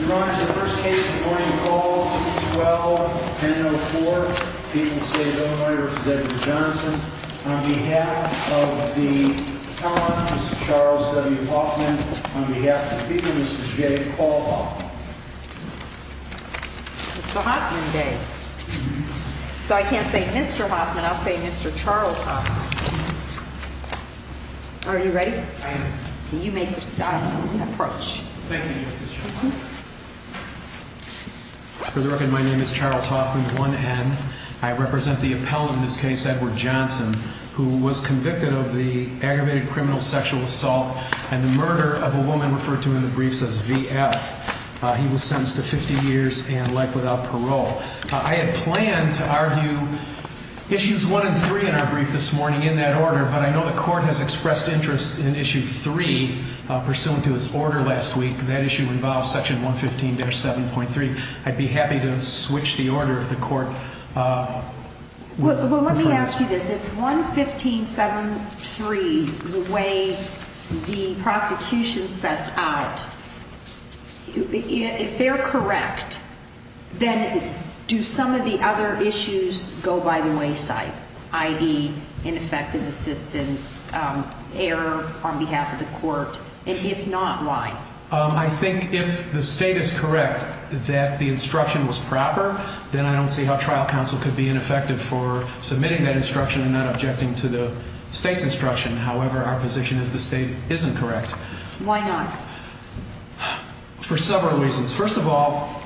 Your Honor, the first case of the morning call, 2-12-10-04, people say the only writer is Deborah Johnson. On behalf of the attorney, Mr. Charles W. Hoffman, on behalf of the people, Mr. J. Paul Hoffman. It's the Hoffman Day. So I can't say Mr. Hoffman, I'll say Mr. Charles Hoffman. Are you ready? I am. Can you make your style and approach? Thank you, Justice. For the record, my name is Charles Hoffman, 1-N. I represent the appellant in this case, Edward Johnson, who was convicted of the aggravated criminal sexual assault and the murder of a woman referred to in the briefs as VF. He was sentenced to 50 years and life without parole. I had planned to argue issues 1 and 3 in our brief this morning in that order, but I know the court has expressed interest in issue 3, pursuant to its order last week. That issue involves section 115-7.3. I'd be happy to switch the order of the court. Well, let me ask you this. If 115-7.3, the way the prosecution sets out, if they're correct, then do some of the other issues go by the wayside? I.e. ineffective assistance, error on behalf of the court, and if not, why? I think if the state is correct that the instruction was proper, then I don't see how trial counsel could be ineffective for submitting that instruction and not objecting to the state's instruction. However, our position is the state isn't correct. Why not? For several reasons. First of all,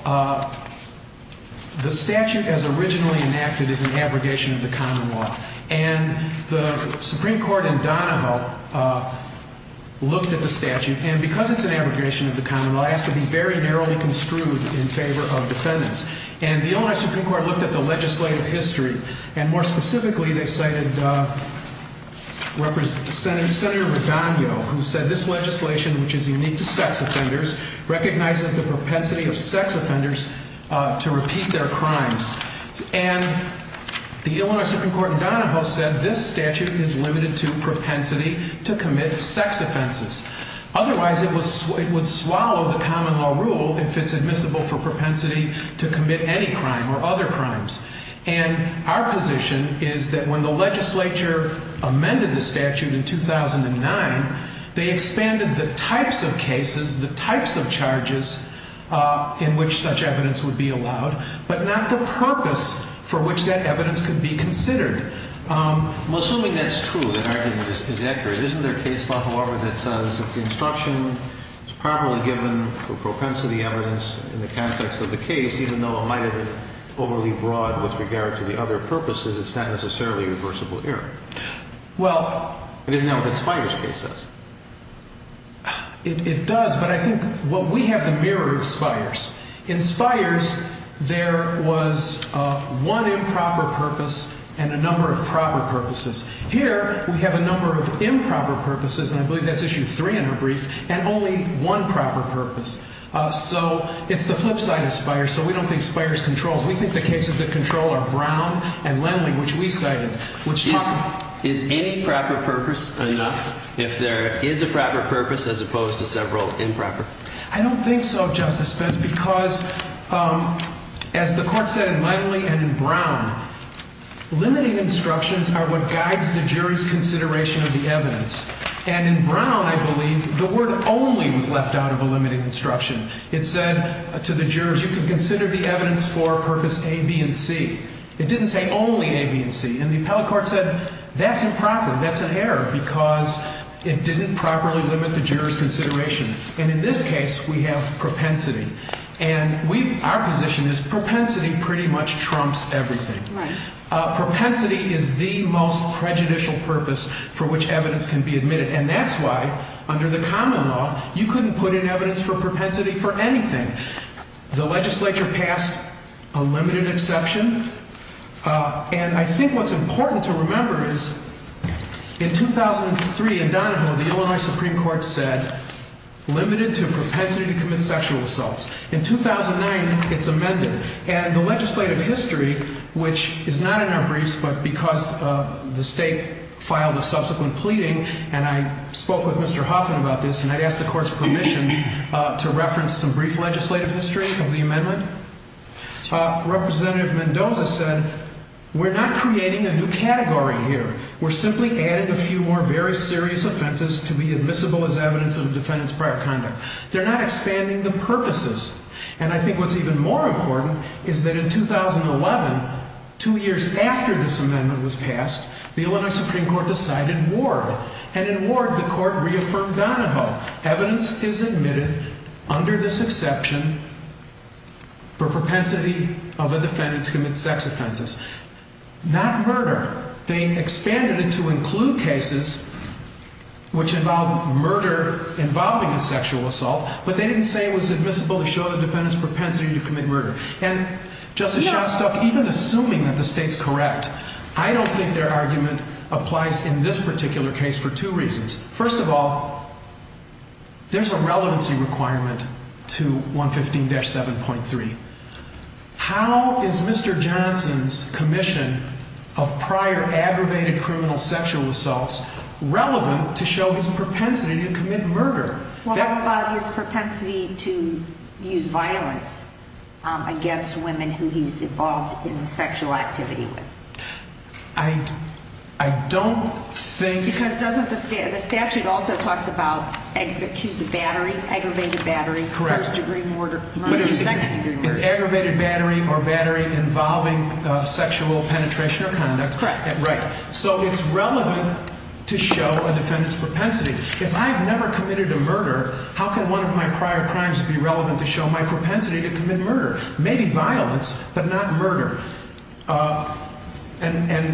the statute as originally enacted is an abrogation of the common law, and the Supreme Court in Donahoe looked at the statute, and because it's an abrogation of the common law, it has to be very narrowly construed in favor of defendants. And the Illinois Supreme Court looked at the legislative history, and more specifically, they cited Senator Redondo, who said this legislation, which is unique to sex offenders, recognizes the propensity of sex offenders to repeat their crimes. And the Illinois Supreme Court in Donahoe said this statute is limited to propensity to commit sex offenses. Otherwise, it would swallow the common law rule if it's admissible for propensity to commit any crime or other crimes. And our position is that when the legislature amended the statute in 2009, they expanded the types of cases, the types of charges in which such evidence would be allowed, but not the purpose for which that evidence could be considered. Well, assuming that's true, that argument is accurate, isn't there a case law, however, that says if the instruction is properly given for propensity evidence in the context of the case, even though it might have been overly broad with regard to the other purposes, it's not necessarily reversible error? Well... And isn't that what the Spires case says? It does, but I think, well, we have the mirror of Spires. In Spires, there was one improper purpose and a number of proper purposes. Here, we have a number of improper purposes, and I believe that's issue three in her brief, and only one proper purpose. So it's the flip side of Spires. So we don't think Spires controls. We think the cases that control are Brown and Lenly, which we cited. Is any proper purpose enough if there is a proper purpose as opposed to several improper? I don't think so, Justice Spence, because as the court said in Lenly and in Brown, limiting instructions are what guides the jury's consideration of the evidence. And in Brown, I believe, the word only was left out of a limiting instruction. It said to the jurors, you can consider the evidence for purpose A, B, and C. It didn't say only A, B, and C. And the appellate court said, that's improper. That's an error because it didn't properly limit the juror's consideration. And in this case, we have propensity. And our position is propensity pretty much trumps everything. Right. Propensity is the most prejudicial purpose for which evidence can be admitted. And that's why, under the common law, you couldn't put in evidence for propensity for anything. The legislature passed a limited exception. And I think what's important to remember is, in 2003 in Donahoe, the Illinois Supreme Court said, limited to propensity to commit sexual assaults. In 2009, it's amended. And the legislative history, which is not in our briefs, but because the state filed a subsequent pleading, and I spoke with Mr. Huffman about this, and I asked the court's permission to reference some brief legislative history of the amendment. Representative Mendoza said, we're not creating a new category here. We're simply adding a few more very serious offenses to be admissible as evidence of defendant's prior conduct. They're not expanding the purposes. And I think what's even more important is that in 2011, two years after this amendment was passed, the Illinois Supreme Court decided ward. And in ward, the court reaffirmed Donahoe. Evidence is admitted under this exception for propensity of a defendant to commit sex offenses. Not murder. They expanded it to include cases which involve murder involving a sexual assault. But they didn't say it was admissible to show the defendant's propensity to commit murder. And Justice Shostak, even assuming that the state's correct, I don't think their argument applies in this particular case for two reasons. First of all, there's a relevancy requirement to 115-7.3. How is Mr. Johnson's commission of prior aggravated criminal sexual assaults relevant to show his propensity to commit murder? Well, how about his propensity to use violence against women who he's involved in sexual activity with? I don't think... Because doesn't the statute also talks about accused of battery, aggravated battery, first degree murder, second degree murder. It's aggravated battery or battery involving sexual penetration or conduct. Right. So it's relevant to show a defendant's propensity. If I've never committed a murder, how can one of my prior crimes be relevant to show my propensity to commit murder? Maybe violence, but not murder. And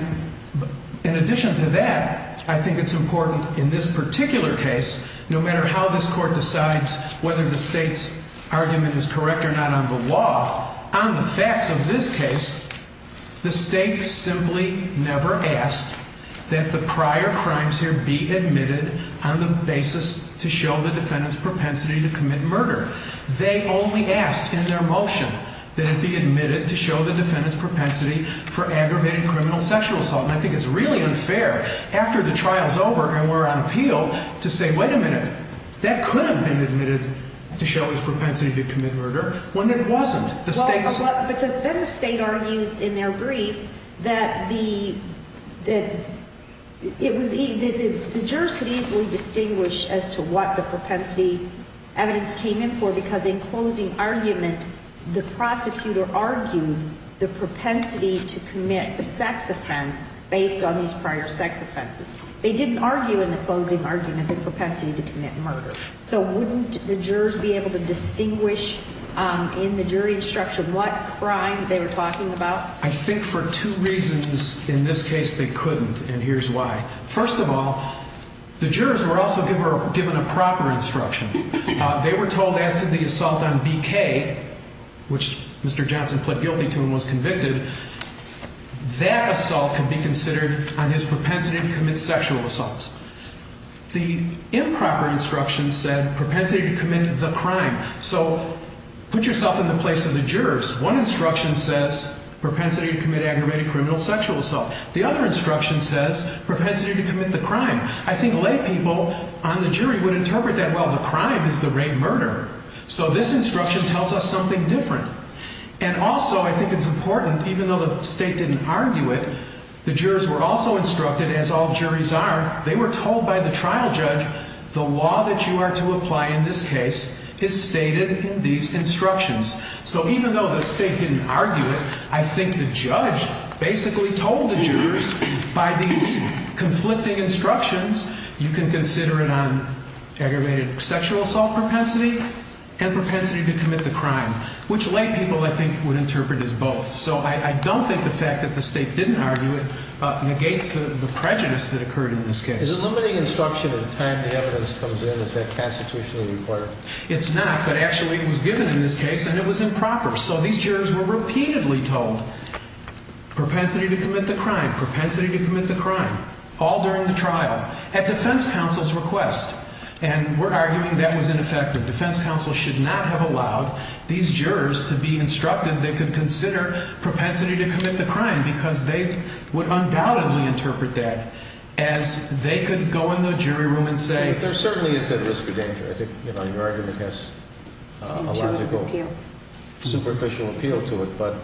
in addition to that, I think it's important in this particular case, no matter how this court decides whether the state's argument is correct or not on the law, on the facts of this case, the state simply never asked that the prior crimes here be admitted on the basis to show the defendant's propensity to commit murder. They only asked in their motion that it be admitted to show the defendant's propensity for aggravated criminal sexual assault. And I think it's really unfair after the trial's over and we're on appeal to say, wait a minute, that could have been admitted to show his propensity to commit murder when it wasn't. But then the state argues in their brief that the jurors could easily distinguish as to what the propensity evidence came in for because in closing argument, the prosecutor argued the propensity to commit a sex offense based on these prior sex offenses. They didn't argue in the closing argument the propensity to commit murder. So wouldn't the jurors be able to distinguish in the jury instruction what crime they were talking about? I think for two reasons. In this case, they couldn't. And here's why. First of all, the jurors were also given a proper instruction. They were told as to the assault on BK, which Mr. Johnson pled guilty to and was convicted, that assault could be considered on his propensity to commit sexual assaults. The improper instruction said propensity to commit the crime. So put yourself in the place of the jurors. One instruction says propensity to commit aggravated criminal sexual assault. The other instruction says propensity to commit the crime. I think lay people on the jury would interpret that, well, the crime is the rape murder. So this instruction tells us something different. And also, I think it's important, even though the state didn't argue it, the jurors were also instructed, as all juries are, they were told by the trial judge, the law that you are to apply in this case is stated in these instructions. So even though the state didn't argue it, I think the judge basically told the jurors, by these conflicting instructions, you can consider it on aggravated sexual assault propensity and propensity to commit the crime, which lay people, I think, would interpret as both. So I don't think the fact that the state didn't argue it negates the prejudice that occurred in this case. Is it limiting instruction at the time the evidence comes in? Is that constitutionally required? It's not, but actually it was given in this case, and it was improper. So these jurors were repeatedly told propensity to commit the crime, propensity to commit the crime, all during the trial, at defense counsel's request. And we're arguing that was ineffective. Defense counsel should not have allowed these jurors to be instructed they could consider propensity to commit the crime because they would undoubtedly interpret that as they could go in the jury room and say... There certainly is that risk of danger. I think, you know, your argument has a logical superficial appeal to it. But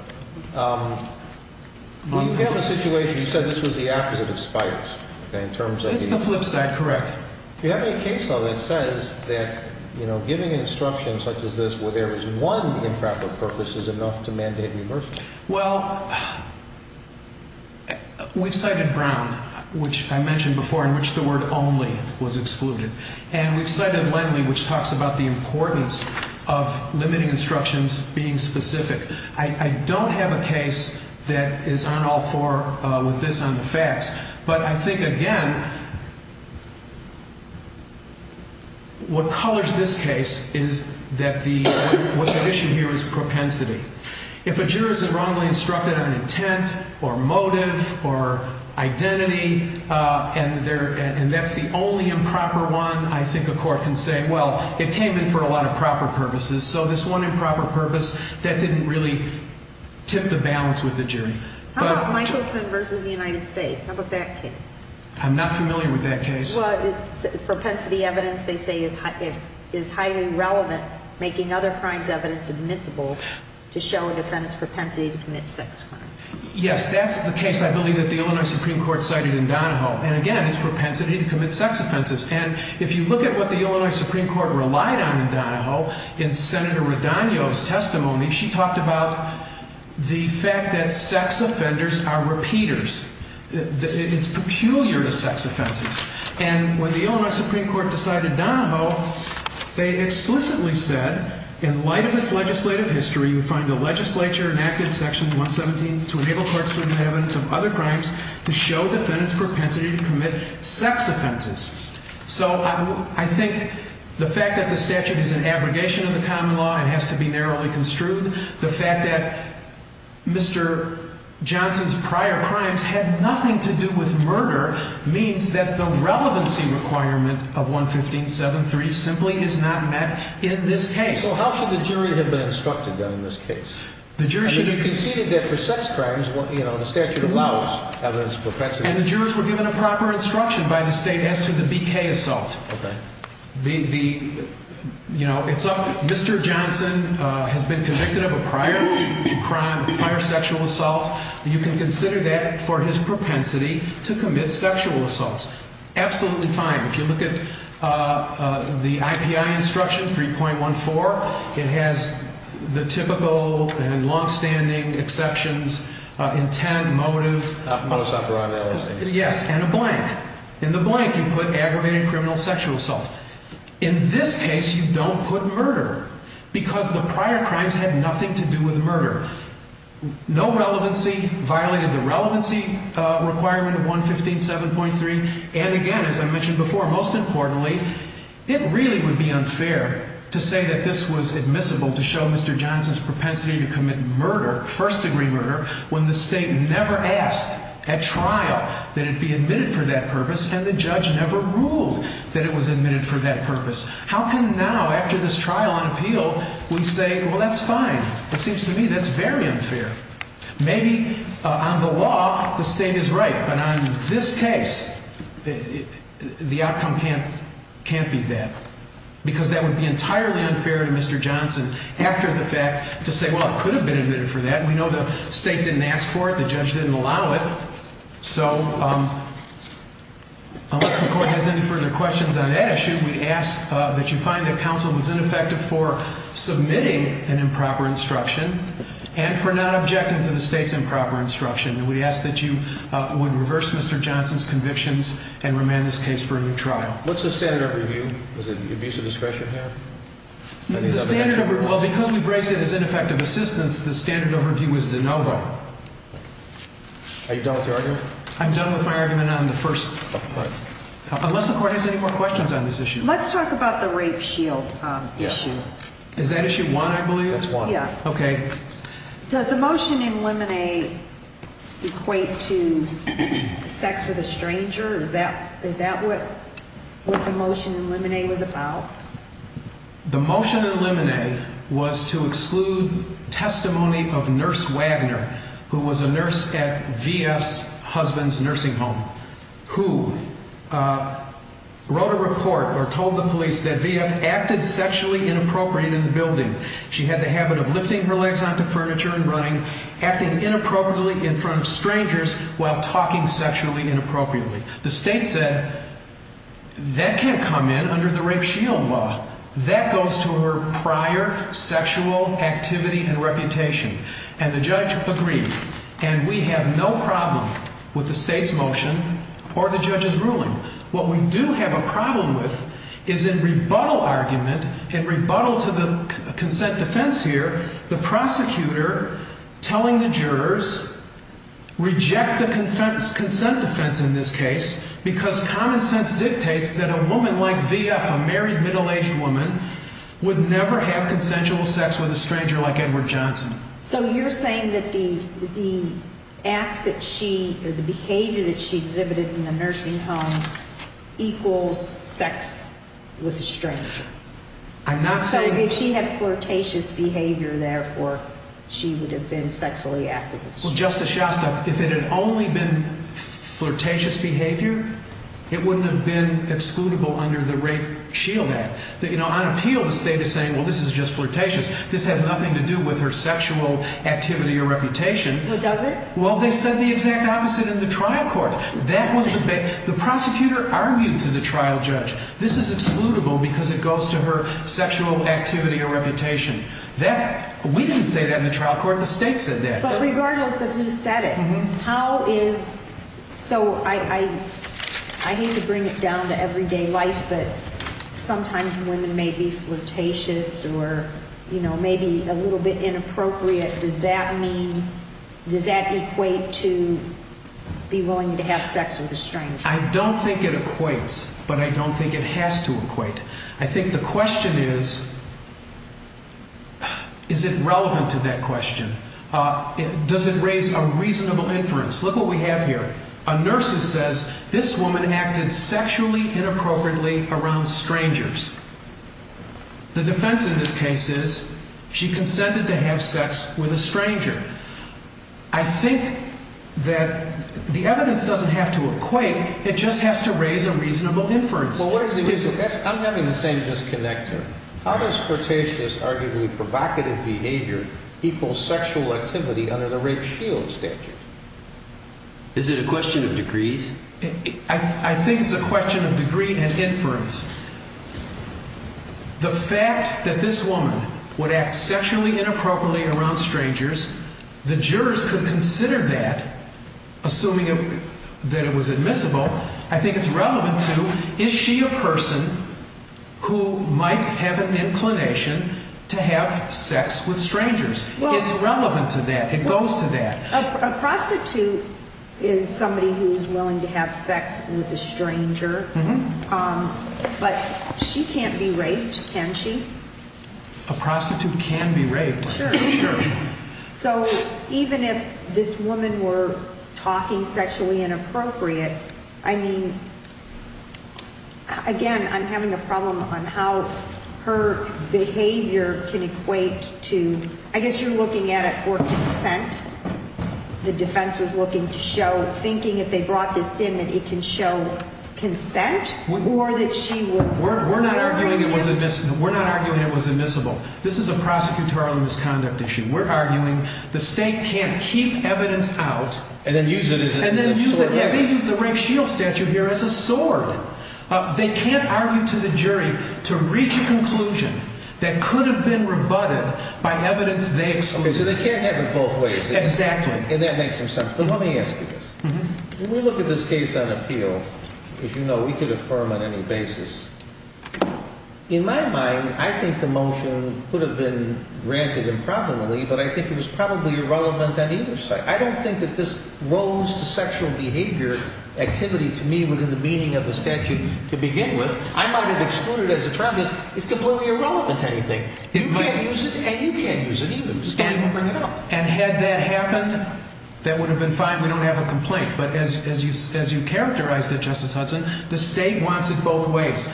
we have a situation, you said this was the opposite of Spires, in terms of... It's the flip side, correct. Do you have any case law that says that, you know, giving instructions such as this where there is one improper purpose is enough to mandate reversal? Well, we've cited Brown, which I mentioned before, in which the word only was excluded. And we've cited Lendley, which talks about the importance of limiting instructions being specific. I don't have a case that is on all four with this on the facts. But I think, again, what colors this case is that what's at issue here is propensity. If a juror is wrongly instructed on intent, or motive, or identity, and that's the only improper one, I think a court can say, well, it came in for a lot of proper purposes. So this one improper purpose, that didn't really tip the balance with the jury. How about Michelson versus the United States? How about that case? I'm not familiar with that case. Well, propensity evidence, they say, is highly relevant, making other crimes evidence admissible to show a defendant's propensity to commit sex crimes. Yes, that's the case, I believe, that the Illinois Supreme Court cited in Donahoe. And again, it's propensity to commit sex offenses. And if you look at what the Illinois Supreme Court relied on in Donahoe, in Senator Radonyo's testimony, she talked about the fact that sex offenders are repeaters. It's peculiar to sex offenses. And when the Illinois Supreme Court decided Donahoe, they explicitly said, in light of its legislative history, you find the legislature enacted section 117 to enable courts to make evidence of other crimes to show defendants' propensity to commit sex offenses. So I think the fact that the statute is an abrogation of the common law, it has to be narrowly construed. The fact that Mr. Johnson's prior crimes had nothing to do with murder means that the relevancy requirement of 115.7.3 simply is not met in this case. So how should the jury have been instructed, then, in this case? The jury should be- You conceded that for sex crimes, the statute allows evidence of propensity. And the jurors were given a proper instruction by the state as to the BK assault. Okay. Mr. Johnson has been convicted of a prior crime, a prior sexual assault. You can consider that for his propensity to commit sexual assaults. Absolutely fine. If you look at the IPI instruction, 3.14, it has the typical and long-standing exceptions, intent, motive- Not for motus operandi, obviously. Yes, and a blank. In the blank, you put aggravated criminal sexual assault. In this case, you don't put murder because the prior crimes had nothing to do with murder. No relevancy violated the relevancy requirement of 115.7.3. And again, as I mentioned before, most importantly, it really would be unfair to say that this was admissible to show Mr. Johnson's propensity to commit murder, first-degree murder, when the state never asked at trial that it be admitted for that purpose, and the judge never ruled that it was admitted for that purpose. How can now, after this trial on appeal, we say, well, that's fine? It seems to me that's very unfair. Maybe on the law, the state is right, but on this case, the outcome can't be that. Because that would be entirely unfair to Mr. Johnson, after the fact, to say, well, it could have been admitted for that. We know the state didn't ask for it. The judge didn't allow it. So unless the court has any further questions on that issue, we ask that you find that counsel was ineffective for submitting an improper instruction and for not objecting to the state's improper instruction. And we ask that you would reverse Mr. Johnson's convictions and remand this case for a new trial. What's the standard of review? Does it abuse of discretion have? Well, because we've raised it as ineffective assistance, the standard overview is de novo. Are you done with your argument? I'm done with my argument on the first. Unless the court has any more questions on this issue. Let's talk about the rape shield issue. Is that issue one, I believe? That's one. Yeah. Okay. Does the motion in limine equate to sex with a stranger? Is that what the motion in limine was about? The motion in limine was to exclude testimony of Nurse Wagner, who was a nurse at VF's husband's nursing home, who wrote a report or told the police that VF acted sexually inappropriate in the building. She had the habit of lifting her legs onto furniture and running, acting inappropriately in front of strangers while talking sexually inappropriately. The state said that can't come in under the rape shield law. That goes to her prior sexual activity and reputation. And the judge agreed. And we have no problem with the state's motion or the judge's ruling. What we do have a problem with is in rebuttal argument, in rebuttal to the consent defense here, the prosecutor telling the jurors reject the consent defense in this case because common sense dictates that a woman like VF, a married middle-aged woman, would never have consensual sex with a stranger like Edward Johnson. So you're saying that the acts that she, or the behavior that she exhibited in the nursing home equals sex with a stranger? I'm not saying... So if she had flirtatious behavior, therefore, she would have been sexually active with a stranger? Well, Justice Shostak, if it had only been flirtatious behavior, it wouldn't have been excludable under the rape shield act. You know, on appeal, the state is saying, well, this is just flirtatious. This has nothing to do with her sexual activity or reputation. Well, does it? Well, they said the exact opposite in the trial court. That was the... The prosecutor argued to the trial judge, this is excludable because it goes to her sexual activity or reputation. That... We didn't say that in the trial court. The state said that. But regardless of who said it, how is... So I hate to bring it down to everyday life, but sometimes women may be flirtatious or, you know, maybe a little bit inappropriate. Does that mean... Does that equate to be willing to have sex with a stranger? I don't think it equates, but I don't think it has to equate. I think the question is, is it relevant to that question? Does it raise a reasonable inference? Look what we have here. A nurse who says this woman acted sexually inappropriately around strangers. The defense in this case is she consented to have sex with a stranger. I think that the evidence doesn't have to equate. It just has to raise a reasonable inference. I'm having the same disconnect here. How does flirtatious, arguably provocative behavior equal sexual activity under the rape shield statute? Is it a question of degrees? I think it's a question of degree and inference. The fact that this woman would act sexually inappropriately around strangers, the jurors could consider that, assuming that it was admissible. I think it's relevant to, is she a person who might have an inclination to have sex with strangers? It's relevant to that. It goes to that. A prostitute is somebody who's willing to have sex with a stranger, but she can't be raped, can she? A prostitute can be raped. Sure. So even if this woman were talking sexually inappropriate, I mean, again, I'm having a problem on how her behavior can equate to, I guess you're looking at it for consent. The defense was looking to show, thinking if they brought this in, that it can show consent, or that she was... We're not arguing it was admissible. This is a prosecutorial misconduct issue. We're arguing the state can't keep evidence out... And then use it as a sword. And then use the rape shield statute here as a sword. They can't argue to the jury to reach a conclusion that could have been rebutted by evidence they excluded. So they can't have it both ways. Exactly. And that makes some sense. But let me ask you this. When we look at this case on appeal, as you know, we could affirm on any basis. In my mind, I think the motion could have been granted improperly, but I think it was probably irrelevant on either side. I don't think that this rose to sexual behavior activity to me within the meaning of the statute to begin with. I might have excluded it as a prejudice. It's completely irrelevant to anything. You can't use it, and you can't use it either. You just can't even bring it up. And had that happened, that would have been fine. We don't have a complaint. But as you characterized it, Justice Hudson, the state wants it both ways.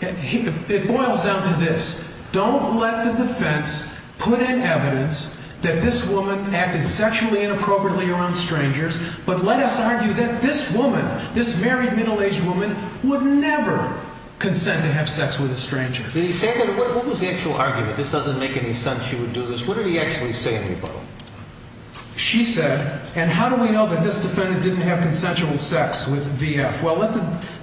It boils down to this. Don't let the defense put in evidence that this woman acted sexually inappropriately around strangers. But let us argue that this woman, this married middle-aged woman, would never consent to have sex with a stranger. Did he say that? What was the actual argument? This doesn't make any sense. She would do this. What did he actually say to people? She said, and how do we know that this defendant didn't have consensual sex with VF? Well,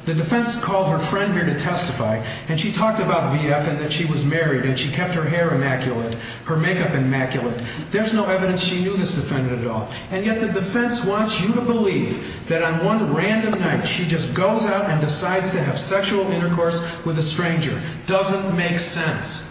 the defense called her friend here to testify, and she talked about VF and that she was married, and she kept her hair immaculate, her makeup immaculate. There's no evidence she knew this defendant at all. And yet the defense wants you to believe that on one random night, she just goes out and decides to have sexual intercourse with a stranger. Doesn't make sense.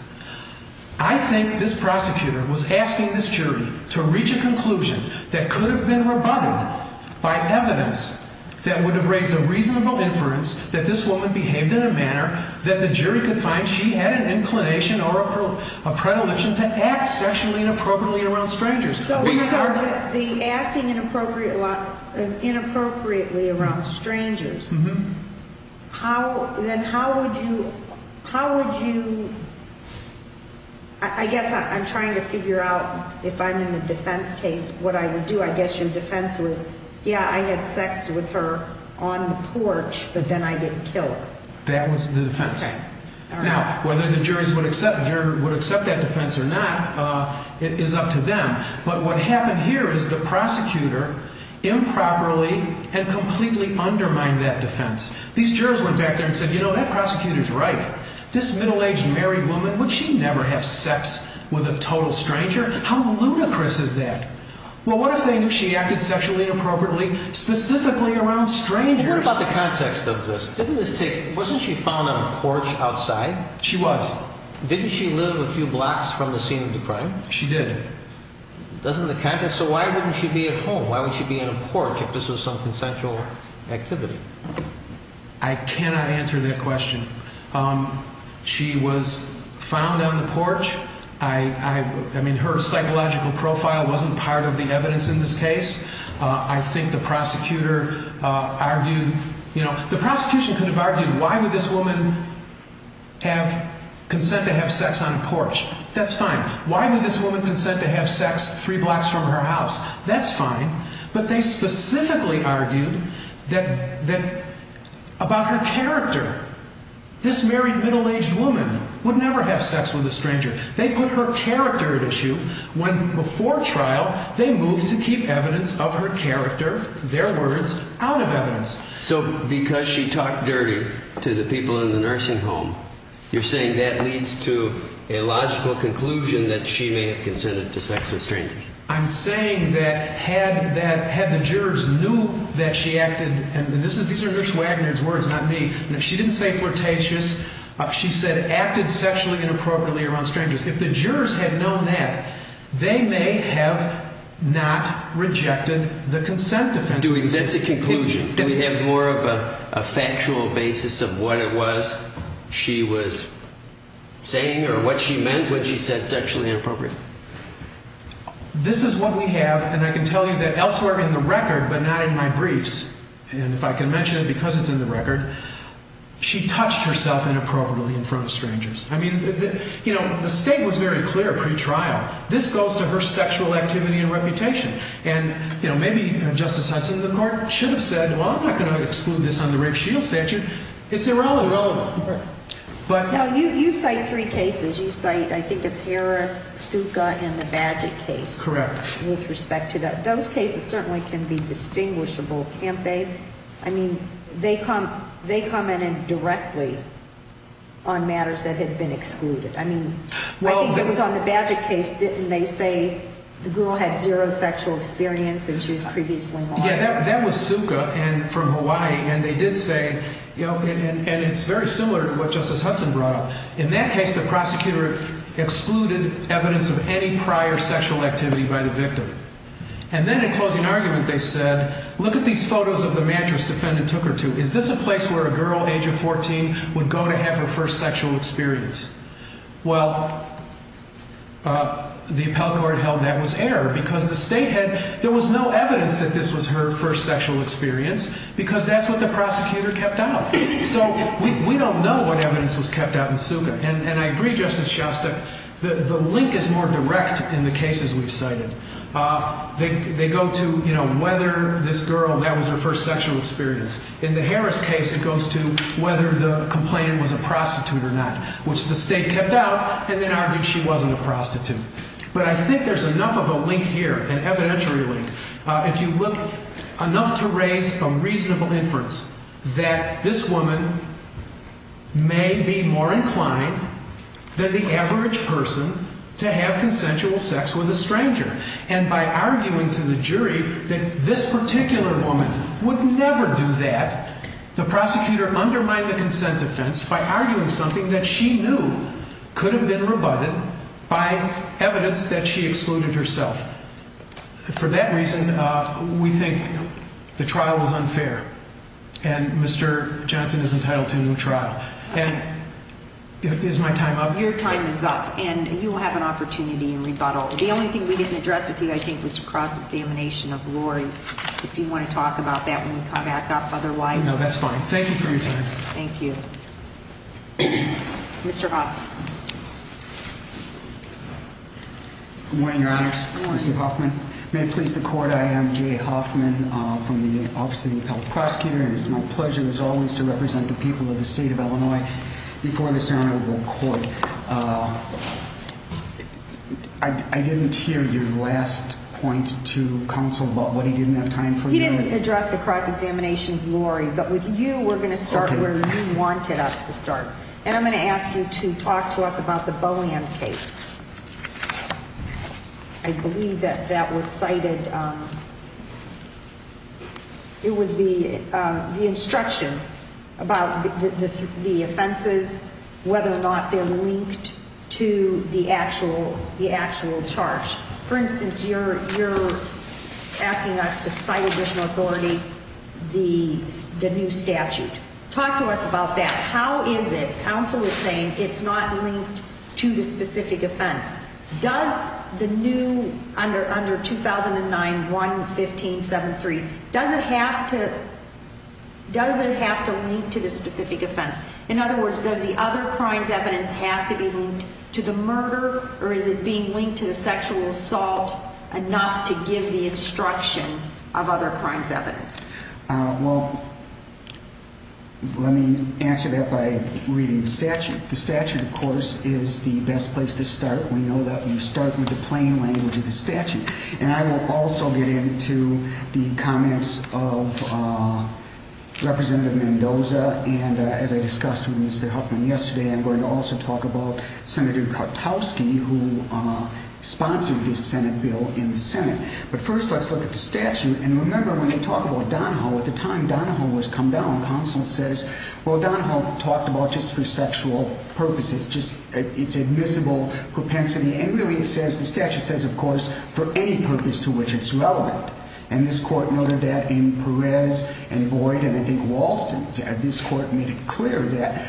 I think this prosecutor was asking this jury to reach a conclusion that could have been rebutted by evidence that would have raised a reasonable inference that this woman behaved in a manner that the jury could find she had an inclination or a predilection to act sexually inappropriately around strangers. So the acting inappropriately around strangers, then how would you, I guess I'm trying to figure out if I'm in the defense case, what I would do, I guess your defense was, yeah, I had sex with her on the porch, but then I didn't kill her. That was the defense. Now, whether the jury would accept that defense or not, it is up to them. But what happened here is the prosecutor improperly and completely undermined that defense. These jurors went back there and said, you know, that prosecutor's right. This middle-aged married woman, would she never have sex with a total stranger? How ludicrous is that? Well, what if they knew she acted sexually inappropriately specifically around strangers? What about the context of this? Didn't this take, wasn't she found on a porch outside? She was. Didn't she live a few blocks from the scene of the crime? She did. Doesn't the context, so why wouldn't she be at home? Why would she be on a porch if this was some consensual activity? I cannot answer that question. She was found on the porch. I mean, her psychological profile wasn't part of the evidence in this case. I think the prosecutor argued, you know, the prosecution could have argued, why would this woman have consent to have sex on a porch? That's fine. Why would this woman consent to have sex three blocks from her house? That's fine. But they specifically argued that about her character, this married middle-aged woman would never have sex with a stranger. They put her character at issue when before trial, they moved to keep evidence of her character, their words, out of evidence. So because she talked dirty to the people in the nursing home, you're saying that leads to a logical conclusion that she may have consented to sex with strangers. I'm saying that had the jurors knew that she acted, and these are Nurse Wagner's words, not me, she didn't say flirtatious. She said acted sexually inappropriately around strangers. If the jurors had known that, they may have not rejected the consent defense. That's a conclusion. Do we have more of a factual basis of what it was? She was saying or what she meant when she said sexually inappropriate. This is what we have. And I can tell you that elsewhere in the record, but not in my briefs, and if I can mention it because it's in the record, she touched herself inappropriately in front of strangers. I mean, you know, the state was very clear pre-trial. This goes to her sexual activity and reputation. And, you know, maybe Justice Hudson of the Court should have said, well, I'm not going to exclude this on the rape shield statute. It's irrelevant. Now, you cite three cases. You cite, I think it's Harris, Suka, and the Badgett case. Correct. With respect to that. Those cases certainly can be distinguishable, can't they? I mean, they commented directly on matters that had been excluded. I mean, I think it was on the Badgett case, and they say the girl had zero sexual experience, and she was previously married. Yeah, that was Suka from Hawaii, and they did say, you know, and it's very similar to what Justice Hudson brought up. In that case, the prosecutor excluded evidence of any prior sexual activity by the victim. And then in closing argument, they said, look at these photos of the mattress defendant took her to. Is this a place where a girl age of 14 would go to have her first sexual experience? Well, the appellate court held that was error because the state had, there was no evidence that this was her first sexual experience because that's what the prosecutor kept out. So we don't know what evidence was kept out in Suka. And I agree, Justice Shostak, the link is more direct in the cases we've cited. They go to, you know, whether this girl, that was her first sexual experience. In the Harris case, it goes to whether the complainant was a prostitute or not, which the state kept out, and then argued she wasn't a prostitute. But I think there's enough of a link here, an evidentiary link. If you look enough to raise a reasonable inference that this woman may be more inclined than the average person to have consensual sex with a stranger. And by arguing to the jury that this particular woman would never do that, the prosecutor undermined the consent defense by arguing something that she knew could have been rebutted by evidence that she excluded herself. For that reason, we think the trial was unfair. And Mr. Johnson is entitled to a new trial. And is my time up? Your time is up. And you will have an opportunity in rebuttal. The only thing we didn't address with you, I think, was the cross-examination of Lori. If you want to talk about that when we come back up otherwise. No, that's fine. Thank you for your time. Thank you. Mr. Hoff. Good morning, Your Honors. Good morning, Mr. Hoffman. May it please the Court, I am Jay Hoffman from the Office of the Appellate Prosecutor. And it's my pleasure, as always, to represent the people of the state of Illinois before the ceremonial court. I didn't hear your last point to counsel about what he didn't have time for. He didn't address the cross-examination of Lori. But with you, we're going to start where you wanted us to start. And I'm going to ask you to talk to us about the Bohan case. I believe that that was cited. It was the instruction about the offenses, whether or not they're linked to the actual charge. For instance, you're asking us to cite additional authority the new statute. Talk to us about that. How is it, counsel is saying, it's not linked to the specific offense. Does the new, under 2009-1-1573, does it have to link to the specific offense? In other words, does the other crimes evidence have to be linked to the murder? Or is it being linked to the sexual assault enough to give the instruction of other crimes evidence? Well, let me answer that by reading the statute. The statute, of course, is the best place to start. We know that you start with the plain language of the statute. And I will also get into the comments of Representative Mendoza. And as I discussed with Mr. Huffman yesterday, I'm going to also talk about Senator Kartowski, who sponsored this Senate bill in the Senate. But first, let's look at the statute. And remember, when you talk about Donahoe, at the time Donahoe was come down, counsel says, well, Donahoe talked about just for sexual purposes, just its admissible propensity. And really, it says, the statute says, of course, for any purpose to which it's relevant. And this court noted that in Perez and Boyd and I think Walston. This court made it clear that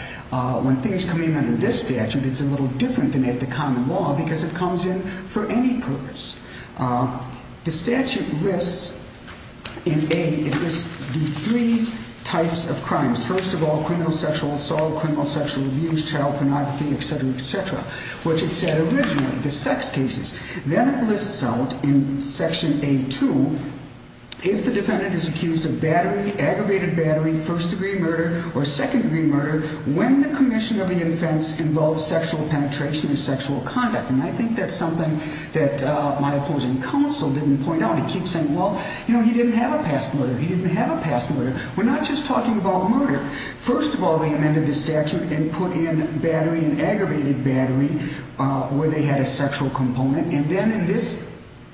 when things come in under this statute, it's a little different than at the common law because it comes in for any purpose. The statute lists in A, it lists the three types of crimes. First of all, criminal sexual assault, criminal sexual abuse, child pornography, et cetera, et cetera, which it said originally, the sex cases. Then it lists out in section A2, if the defendant is accused of battery, aggravated battery, first degree murder, or second degree murder, when the commission of the offense involves sexual penetration or sexual conduct. And I think that's something that my opposing counsel didn't point out. He keeps saying, well, he didn't have a past murder. He didn't have a past murder. We're not just talking about murder. First of all, they amended the statute and put in battery and aggravated battery where they had a sexual component. And then in this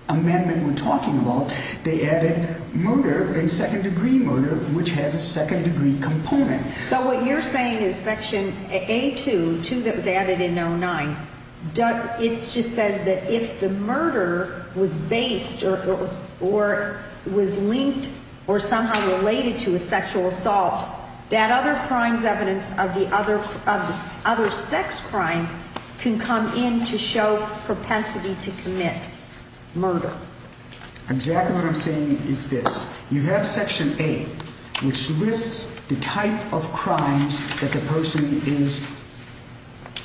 amendment we're talking about, they added murder and second degree murder, which has a second degree component. So what you're saying is section A2, 2 that was added in 09, it just says that if the murder was based or was linked or somehow related to a sexual assault, that other crime's evidence of the other sex crime can come in to show propensity to commit murder. Exactly what I'm saying is this. You have section A, which lists the type of crimes that the person is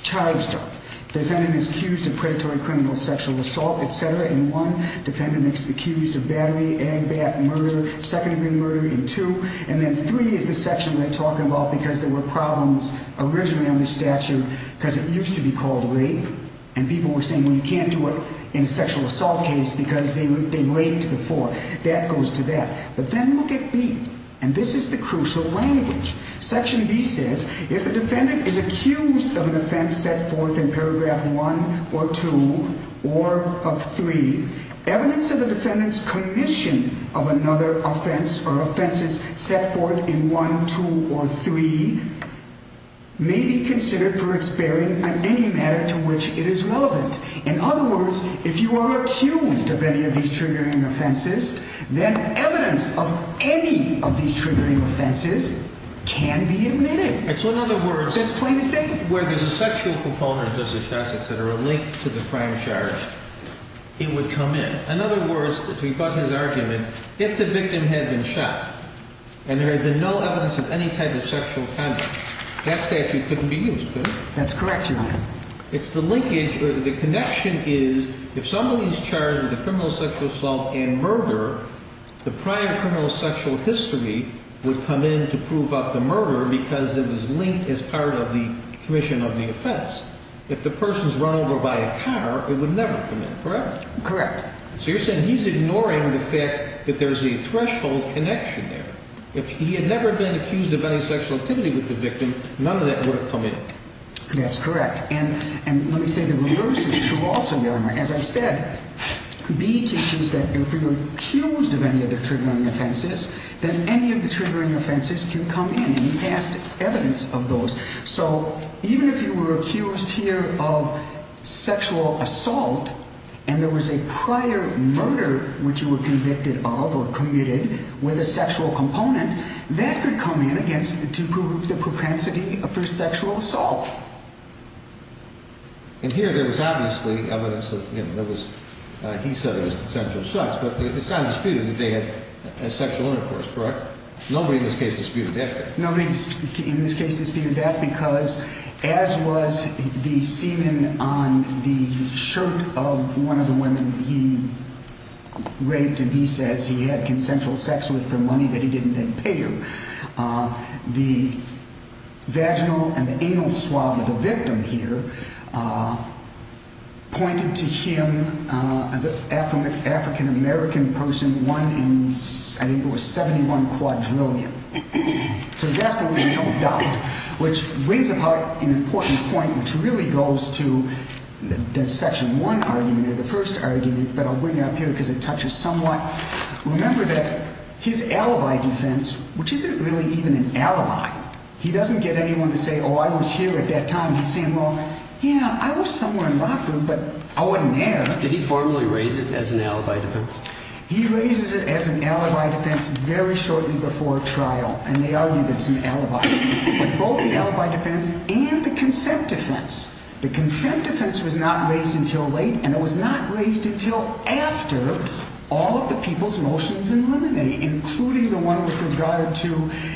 charged of. The defendant is accused of predatory criminal sexual assault, et cetera. And one, defendant is accused of battery, agbat, murder, second degree murder in two. And then three is the section they're talking about because there were problems originally on the statute because it used to be called rape. And people were saying, well, you can't do it in a sexual assault case because they raped before. That goes to that. But then look at B, and this is the crucial language. Section B says, if the defendant is accused of an offense set forth in paragraph one or two or of three, evidence of the defendant's commission of another offense or offenses set forth in one, two, or three may be considered for its bearing on any matter to which it is relevant. In other words, if you are accused of any of these triggering offenses, then evidence of any of these triggering offenses can be admitted. And so in other words, where there's a sexual proponent, justice, et cetera, linked to the crime charge, it would come in. In other words, to rebut his argument, if the victim had been shot and there had been no evidence of any type of sexual conduct, that statute couldn't be used, could it? That's correct, Your Honor. It's the linkage. The connection is, if somebody is charged with a criminal sexual assault and murder, the prior criminal sexual history would come in to prove up the murder because it was linked as part of the commission of the offense. If the person's run over by a car, it would never come in, correct? Correct. So you're saying he's ignoring the fact that there's a threshold connection there. If he had never been accused of any sexual activity with the victim, none of that would have come in. That's correct. And let me say the reverse is true also, Your Honor. As I said, B teaches that if you're accused of any of the triggering offenses, then any of the triggering offenses can come in. And he passed evidence of those. So even if you were accused here of sexual assault and there was a prior murder which you were convicted of or commuted with a sexual component, that could come in to prove the propensity of your sexual assault. And here there was obviously evidence that there was, he said it was potential sex. But it's not disputed that they had sexual intercourse, correct? Nobody in this case disputed that. Nobody in this case disputed that because as was the semen on the shirt of one of the women he raped and he says he had consensual sex with for money that he didn't then pay her. The vaginal and the anal swab of the victim here pointed to him, the African-American person, one in, I think it was 71 quadrillion. So there's absolutely no doubt. Which brings about an important point which really goes to the section one argument or the first argument. But I'll bring it up here because it touches somewhat. Remember that his alibi defense, which isn't really even an alibi. He doesn't get anyone to say, oh, I was here at that time. He's saying, well, yeah, I was somewhere in Rockville. But I wasn't there. Did he formally raise it as an alibi defense? He raises it as an alibi defense very shortly before trial. And they are even some alibis. Both the alibi defense and the consent defense. The consent defense was not raised until late. And it was not raised until after all of the people's motions in Limine, including the one with regard to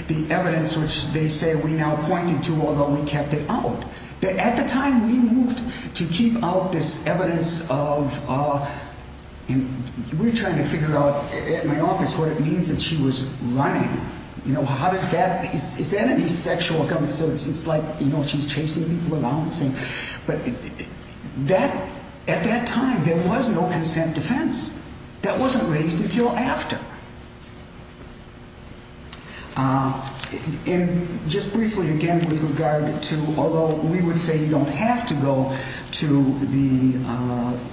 the evidence which they say we now pointed to, although we kept it out. But at the time, we moved to keep out this evidence of, and we're trying to figure out in my office what it means that she was running. You know, how does that, is that any sexual comment? So it's like, you know, she's chasing people around saying, but at that time, there was no consent defense. That wasn't raised until after. And just briefly, again, with regard to, although we would say you don't have to go to the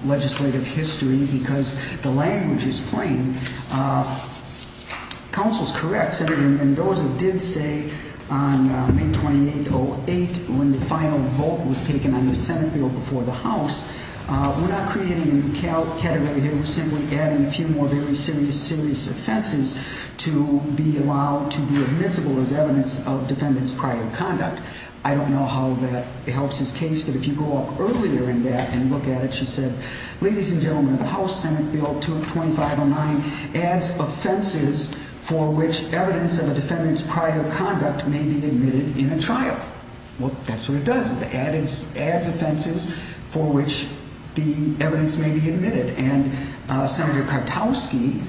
legislative history because the language is plain. And counsel's correct. Senator Mendoza did say on May 28, 08, when the final vote was taken on the Senate bill before the House, we're not creating a new category here. We're simply adding a few more very serious, serious offenses to be allowed to be admissible as evidence of defendant's prior conduct. I don't know how that helps his case. But if you go up earlier in that and look at it, she said, ladies and gentlemen, the House Senate bill 2509, adds offenses for which evidence of a defendant's prior conduct may be admitted in a trial. Well, that's what it does. It adds offenses for which the evidence may be admitted. And Senator Kutowski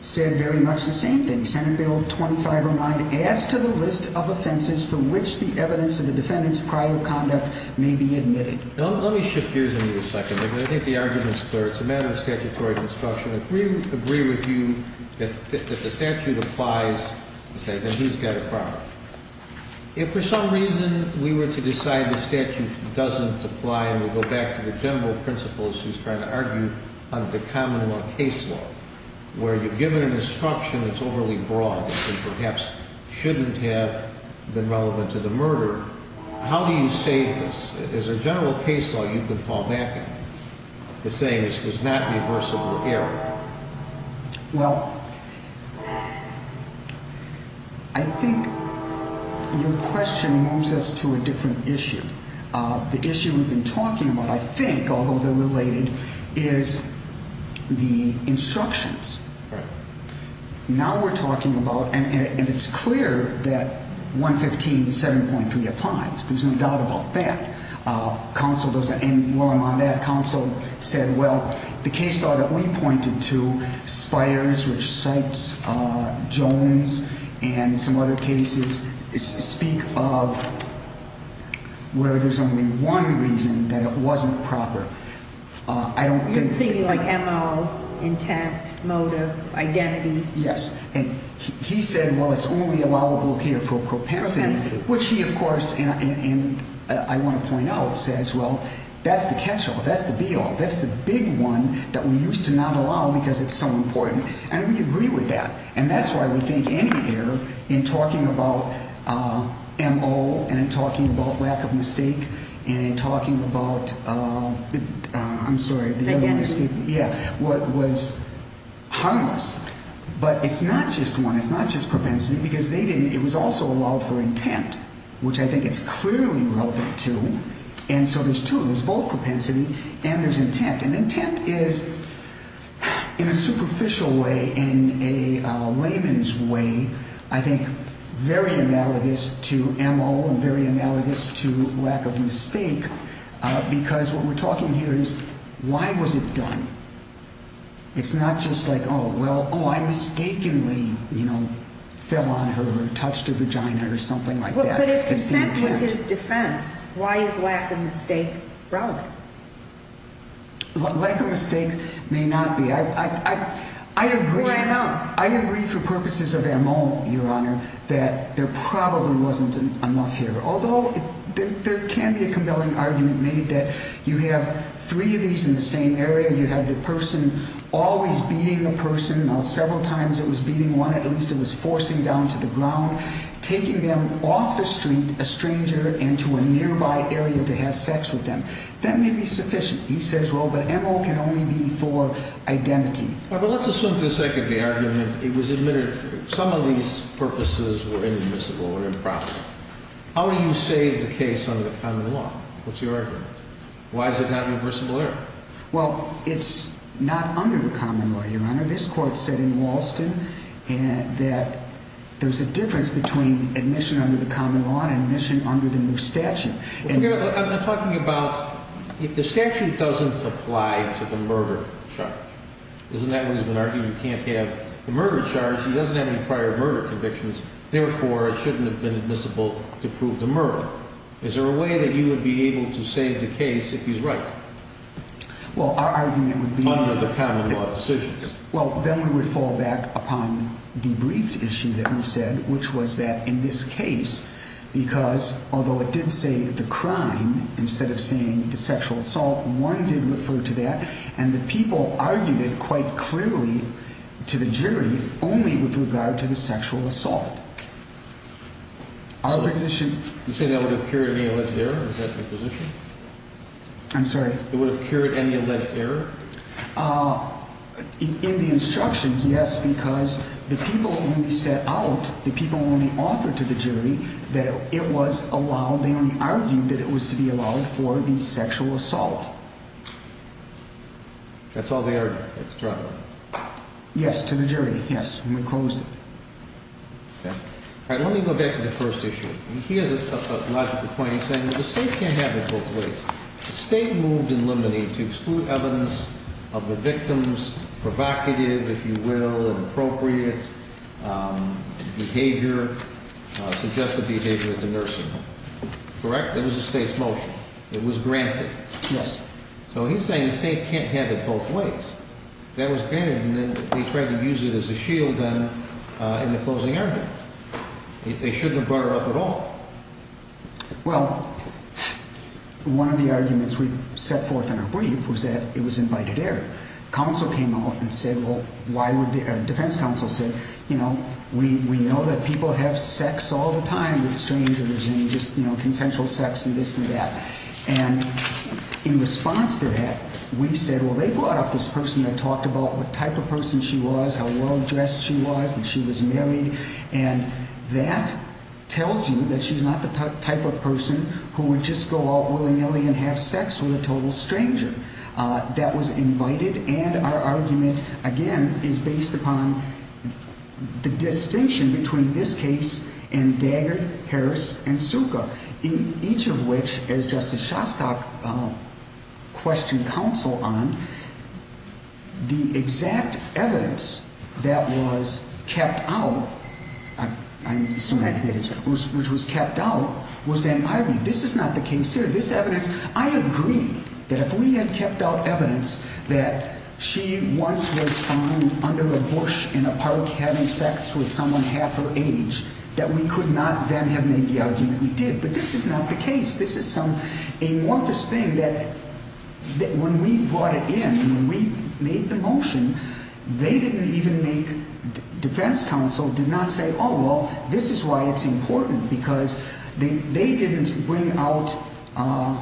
said very much the same thing. Senate bill 2509 adds to the list of offenses for which the evidence of the defendant's prior conduct may be admitted. Let me shift gears in here a second. I think the argument's clear. It's a matter of statutory construction. If we agree with you that the statute applies, then he's got a problem. If for some reason we were to decide the statute doesn't apply, and we go back to the general principles she's trying to argue under the common law case law, where you're given an instruction that's overly broad and perhaps shouldn't have been relevant to the murder, how do you save this? As a general case law, you could fall back to saying this was not reversible error. Well, I think your question moves us to a different issue. The issue we've been talking about, I think, although they're related, is the instructions. Now we're talking about, and it's clear that 115 7.3 applies. There's no doubt about that. Counsel, those that are in the room on that, counsel said, well, the case law that we pointed to, Spires, which cites Jones and some other cases, speak of where there's only one reason that it wasn't proper. I don't think that- You're thinking like MO, intent, motive, identity. Yes. And he said, well, it's only allowable here for propensity, which he, of course, and I want to point out, says, well, that's the catch-all. That's the be-all. That's the big one that we used to not allow because it's so important. And we agree with that. And that's why we think any error in talking about MO and in talking about lack of mistake and in talking about, I'm sorry, the other one escaped. Yeah, what was harmless. But it's not just one. It's not just propensity because they didn't, it was also allowed for intent, which I think it's clearly relevant to. And so there's two. There's both propensity and there's intent. And intent is, in a superficial way, in a layman's way, I think very analogous to MO and very analogous to lack of mistake because what we're talking here is, why was it done? It's not just like, oh, well, oh, I mistakenly fell on her or touched her vagina or something like that. But if consent was his defense, why is lack of mistake relevant? Lack of mistake may not be. I agree for purposes of MO, Your Honor, that there probably wasn't enough here. Although there can be a compelling argument made that you have three of these in the same area. You have the person always beating a person. Now, several times it was beating one. At least it was forcing down to the ground, taking them off the street, a stranger, into a nearby area to have sex with them. That may be sufficient. He says, well, but MO can only be for identity. But let's assume for a second the argument, it was admitted some of these purposes were inadmissible or improper. How do you save the case under the common law? What's your argument? Why is it not reversible error? Well, it's not under the common law, Your Honor. This court said in Walston that there's a difference between admission under the common law and admission under the new statute. Your Honor, I'm talking about if the statute doesn't apply to the murder charge. Isn't that what he's been arguing? You can't have the murder charge. He doesn't have any prior murder convictions. Therefore, it shouldn't have been admissible to prove the murder. Is there a way that you would be able to save the case if he's right? Well, our argument would be under the common law decisions. Well, then we would fall back upon the briefed issue that we said, which was that in this case, because although it did say the crime, instead of saying the sexual assault, one did refer to that. And the people argued it quite clearly to the jury only with regard to the sexual assault. Our position. You say that would have cured any alleged error? Is that the position? I'm sorry. It would have cured any alleged error? Uh, in the instructions, yes. Because the people only set out, the people only offered to the jury that it was allowed. They only argued that it was to be allowed for the sexual assault. That's all they argued at the trial? Yes, to the jury. Yes. And we closed it. All right, let me go back to the first issue. He has a logical point. He's saying that the state can't have it both ways. The state moved in Limonene to exclude evidence of the victim's provocative, if you will, inappropriate behavior, suggestive behavior at the nursing home. Correct? That was the state's motion. It was granted. Yes. So he's saying the state can't have it both ways. That was granted, and then they tried to use it as a shield then in the closing argument. They shouldn't have brought it up at all. Well, one of the arguments we set forth in our brief was that it was invited air. Counsel came out and said, well, why would, uh, defense counsel said, you know, we, we know that people have sex all the time with strangers and just, you know, consensual sex and this and that. And in response to that, we said, well, they brought up this person that talked about what type of person she was, how well dressed she was, that she was married. And that tells you that she's not the type of person who would just go out willy nilly and have sex with a total stranger, uh, that was invited. And our argument again is based upon the distinction between this case and Dagger, Harris and I'm assuming which was kept out. Was that this is not the case here. This evidence, I agree that if we had kept out evidence that she once was found under a bush in a park, having sex with someone half her age, that we could not then have made the argument we did. But this is not the case. This is some amorphous thing that when we brought it in and we made the motion, they did not say, oh, well, this is why it's important because they, they didn't bring out, uh,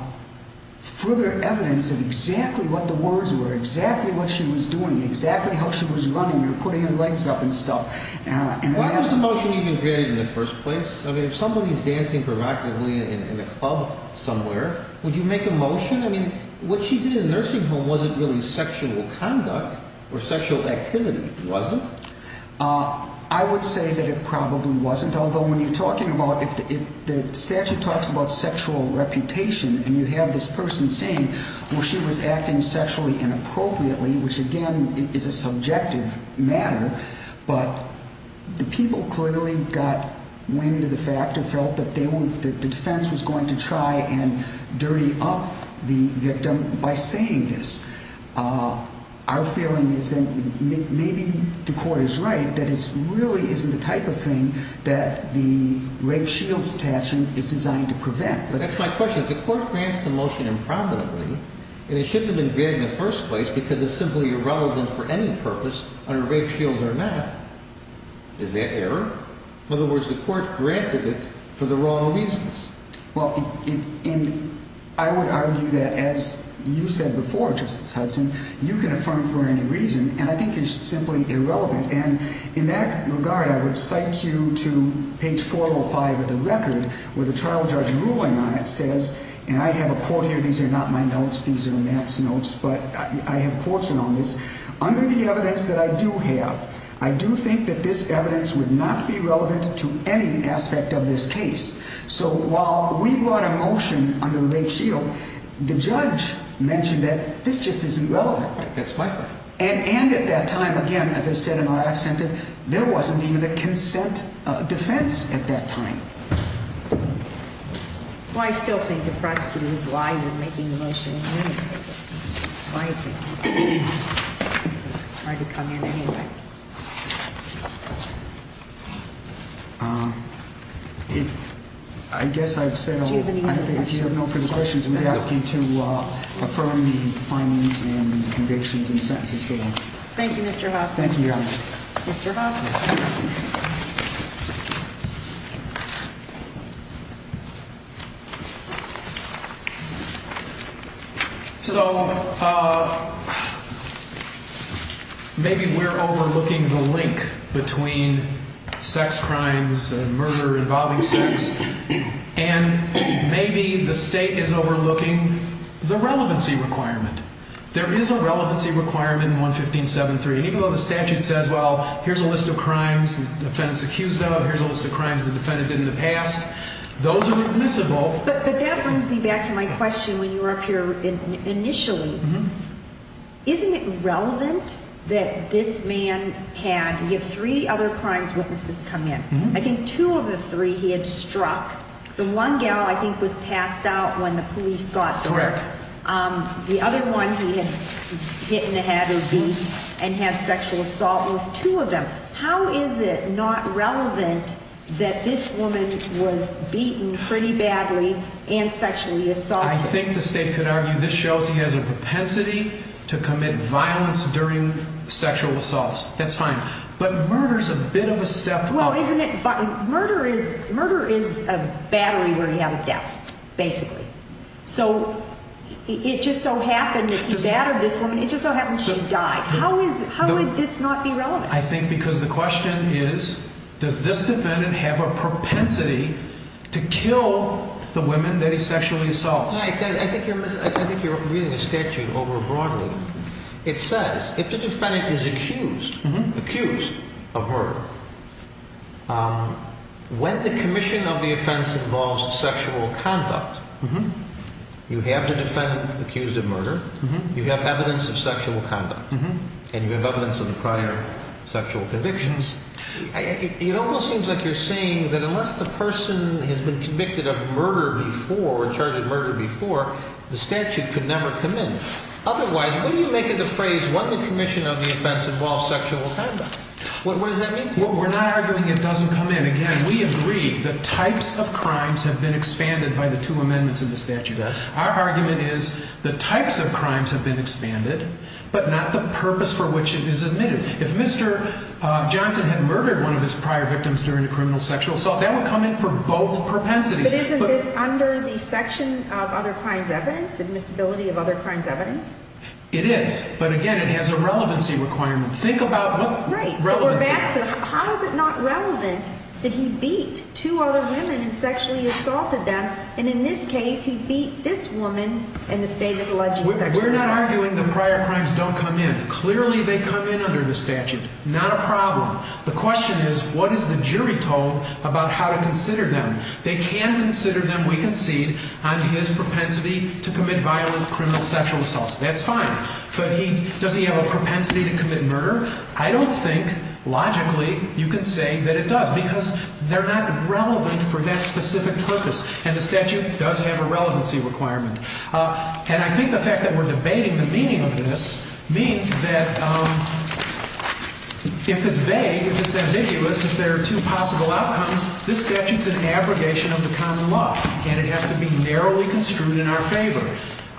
further evidence of exactly what the words were, exactly what she was doing, exactly how she was running or putting her legs up and stuff. Why was the motion even created in the first place? I mean, if somebody is dancing proactively in a club somewhere, would you make a motion? I mean, what she did in nursing home wasn't really sexual conduct or sexual activity, was it? Uh, I would say that it probably wasn't. Although when you're talking about if the, if the statute talks about sexual reputation and you have this person saying, well, she was acting sexually inappropriately, which again is a subjective matter, but the people clearly got wind of the fact or felt that they were, that the defense was going to try and dirty up the victim by saying this. Our feeling is that maybe the court is right, that it's really isn't the type of thing that the rape shields statute is designed to prevent. But that's my question. If the court grants the motion improperly and it shouldn't have been granted in the first place because it's simply irrelevant for any purpose on a rape shield or not, is that error? In other words, the court granted it for the wrong reasons. Well, I would argue that as you said before, Justice Hudson, you can affirm for any reason and I think you're simply irrelevant. And in that regard, I would cite you to page 405 of the record where the trial judge ruling on it says, and I have a quote here. These are not my notes. These are Matt's notes, but I have quotes on this under the evidence that I do have. I do think that this evidence would not be relevant to any aspect of this case. So while we brought a motion on the rape shield, the judge mentioned that this just isn't relevant. That's my thought. And, and at that time, again, as I said in our accent that there wasn't even a consent defense at that time. Well, I still think the prosecutor is wise in making the motion anyway. I guess I've said, I think you have no further questions. I'm going to ask you to affirm the findings and convictions and sentences for them. Thank you, Mr. Hoffman. Thank you, Your Honor. Mr. Hoffman. So maybe we're overlooking the link between sex crimes and murder involving sex, and maybe the state is overlooking the relevancy requirement. There is a relevancy requirement in 115.7.3, even though the statute says, well, here's a list of crimes the defendant's accused of. Here's a list of crimes the defendant did in the past. Those are admissible. But that brings me back to my question when you were up here initially. Isn't it relevant that this man had, you have three other crimes witnesses come in. I think two of the three he had struck. The one gal I think was passed out when the police got there. Correct. The other one he had hit in the head or beat and had sexual assault with two of them. How is it not relevant that this woman was beaten pretty badly and sexually assaulted? I think the state could argue this shows he has a propensity to commit violence during sexual assaults. That's fine. But murder's a bit of a step up. Well, isn't it? Murder is a battery where you have a death, basically. So it just so happened that he battered this woman. It just so happened she died. How is, how would this not be relevant? I think because the question is, does this defendant have a propensity to kill the women that he sexually assaults? I think you're reading the statute over broadly. It says if the defendant is accused, accused of murder, when the commission of the offense involves sexual conduct, you have the defendant accused of murder, you have evidence of sexual conduct, and you have evidence of the prior sexual convictions. It almost seems like you're saying that unless the person has been convicted of murder before or charged with murder before, the statute could never come in. Otherwise, what do you make of the phrase when the commission of the offense involves sexual conduct? What does that mean to you? We're not arguing it doesn't come in. We agree the types of crimes have been expanded by the two amendments in the statute. Our argument is the types of crimes have been expanded, but not the purpose for which it is admitted. If Mr. Johnson had murdered one of his prior victims during a criminal sexual assault, that would come in for both propensities. But isn't this under the section of other crimes evidence, admissibility of other crimes evidence? It is, but again, it has a relevancy requirement. Think about what relevancy. So we're back to, how is it not relevant that he beat two other women and sexually assaulted them? And in this case, he beat this woman and the state is alleging sexual assault. We're not arguing the prior crimes don't come in. Clearly, they come in under the statute. Not a problem. The question is, what is the jury told about how to consider them? They can consider them, we concede, on his propensity to commit violent criminal sexual assaults. That's fine. But does he have a propensity to commit murder? I don't think, logically, you can say that it does, because they're not relevant for that specific purpose. And the statute does have a relevancy requirement. And I think the fact that we're debating the meaning of this means that if it's vague, if it's ambiguous, if there are two possible outcomes, this statute's an abrogation of the common law. And it has to be narrowly construed in our favor.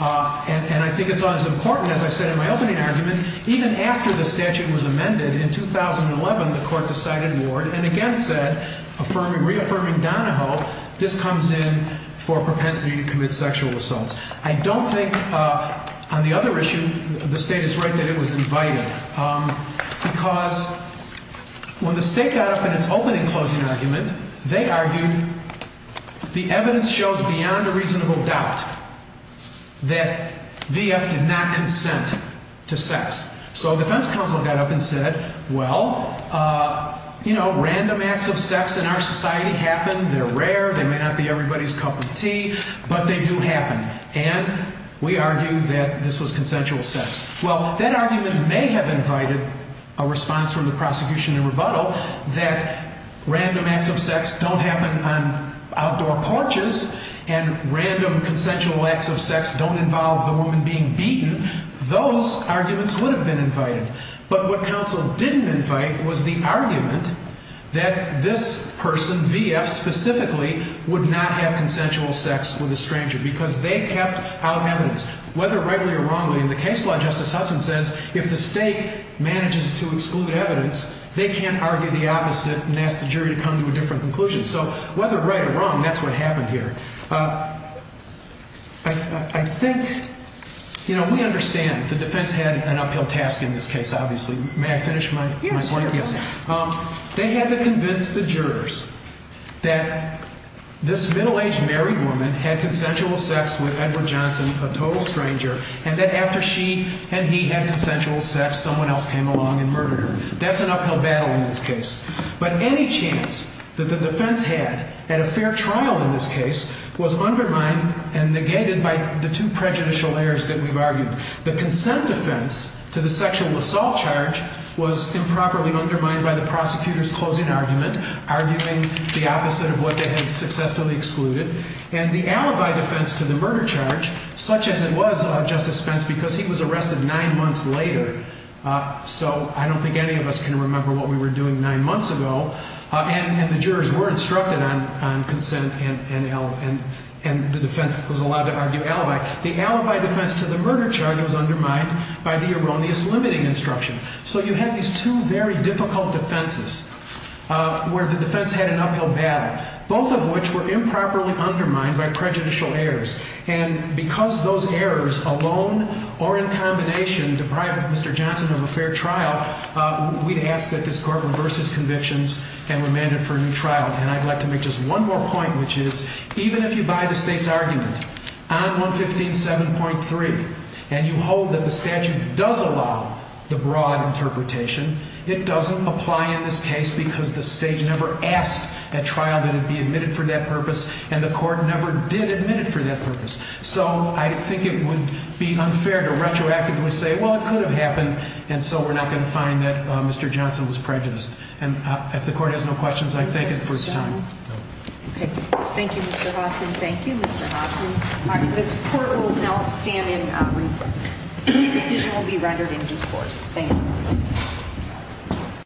And I think it's as important, as I said in my opening argument, even after the statute was amended in 2011, the court decided ward, and again said, reaffirming Donahoe, this comes in for propensity to commit sexual assaults. I don't think, on the other issue, the state is right that it was invited. Because when the state got up in its opening closing argument, they argued the evidence shows beyond a reasonable doubt that VF did not consent to sex. So defense counsel got up and said, well, you know, random acts of sex in our society happen. They're rare. They may not be everybody's cup of tea. But they do happen. And we argue that this was consensual sex. Well, that argument may have invited a response from the prosecution and rebuttal that random acts of sex don't happen on outdoor porches and random consensual acts of sex don't involve the woman being beaten. Those arguments would have been invited. But what counsel didn't invite was the argument that this person, VF specifically, would not have consensual sex with a stranger because they kept out evidence, whether rightly or wrongly. And the case law, Justice Hudson says, if the state manages to exclude evidence, they can't argue the opposite and ask the jury to come to a different conclusion. So whether right or wrong, that's what happened here. I think, you know, we understand the defense had an uphill task in this case, obviously. May I finish my point? Yes. They had to convince the jurors that this middle-aged married woman had consensual sex with Edward Johnson, a total stranger, and that after she and he had consensual sex, someone else came along and murdered her. That's an uphill battle in this case. But any chance that the defense had at a fair trial in this case was undermined and negated by the two prejudicial layers that we've argued. The consent defense to the sexual assault charge was improperly undermined by the prosecutor's closing argument, arguing the opposite of what they had successfully excluded. And the alibi defense to the murder charge, such as it was, Justice Spence, because he was arrested nine months later, so I don't think any of us can remember what we were doing nine months ago, and the jurors were instructed on consent and the defense was allowed to argue alibi. The alibi defense to the murder charge was undermined by the erroneous limiting instruction. So you had these two very difficult defenses where the defense had an uphill battle, both of which were improperly undermined by prejudicial errors. And because those errors alone or in combination deprive Mr. Johnson of a fair trial, we'd ask that this Court reverse his convictions and remand him for a new trial. And I'd like to make just one more point, which is, even if you buy the State's argument on 115.7.3 and you hold that the statute does allow the broad interpretation, it doesn't apply in this case because the State never asked a trial that it be admitted for that purpose, and the Court never did admit it for that purpose. So I think it would be unfair to retroactively say, well, it could have happened, and so we're not going to find that Mr. Johnson was prejudiced. And if the Court has no questions, I thank you for your time. Okay. Thank you, Mr. Hawthorne. Thank you, Mr. Hawthorne. All right. The Court will now stand in recess. The decision will be rendered in due course.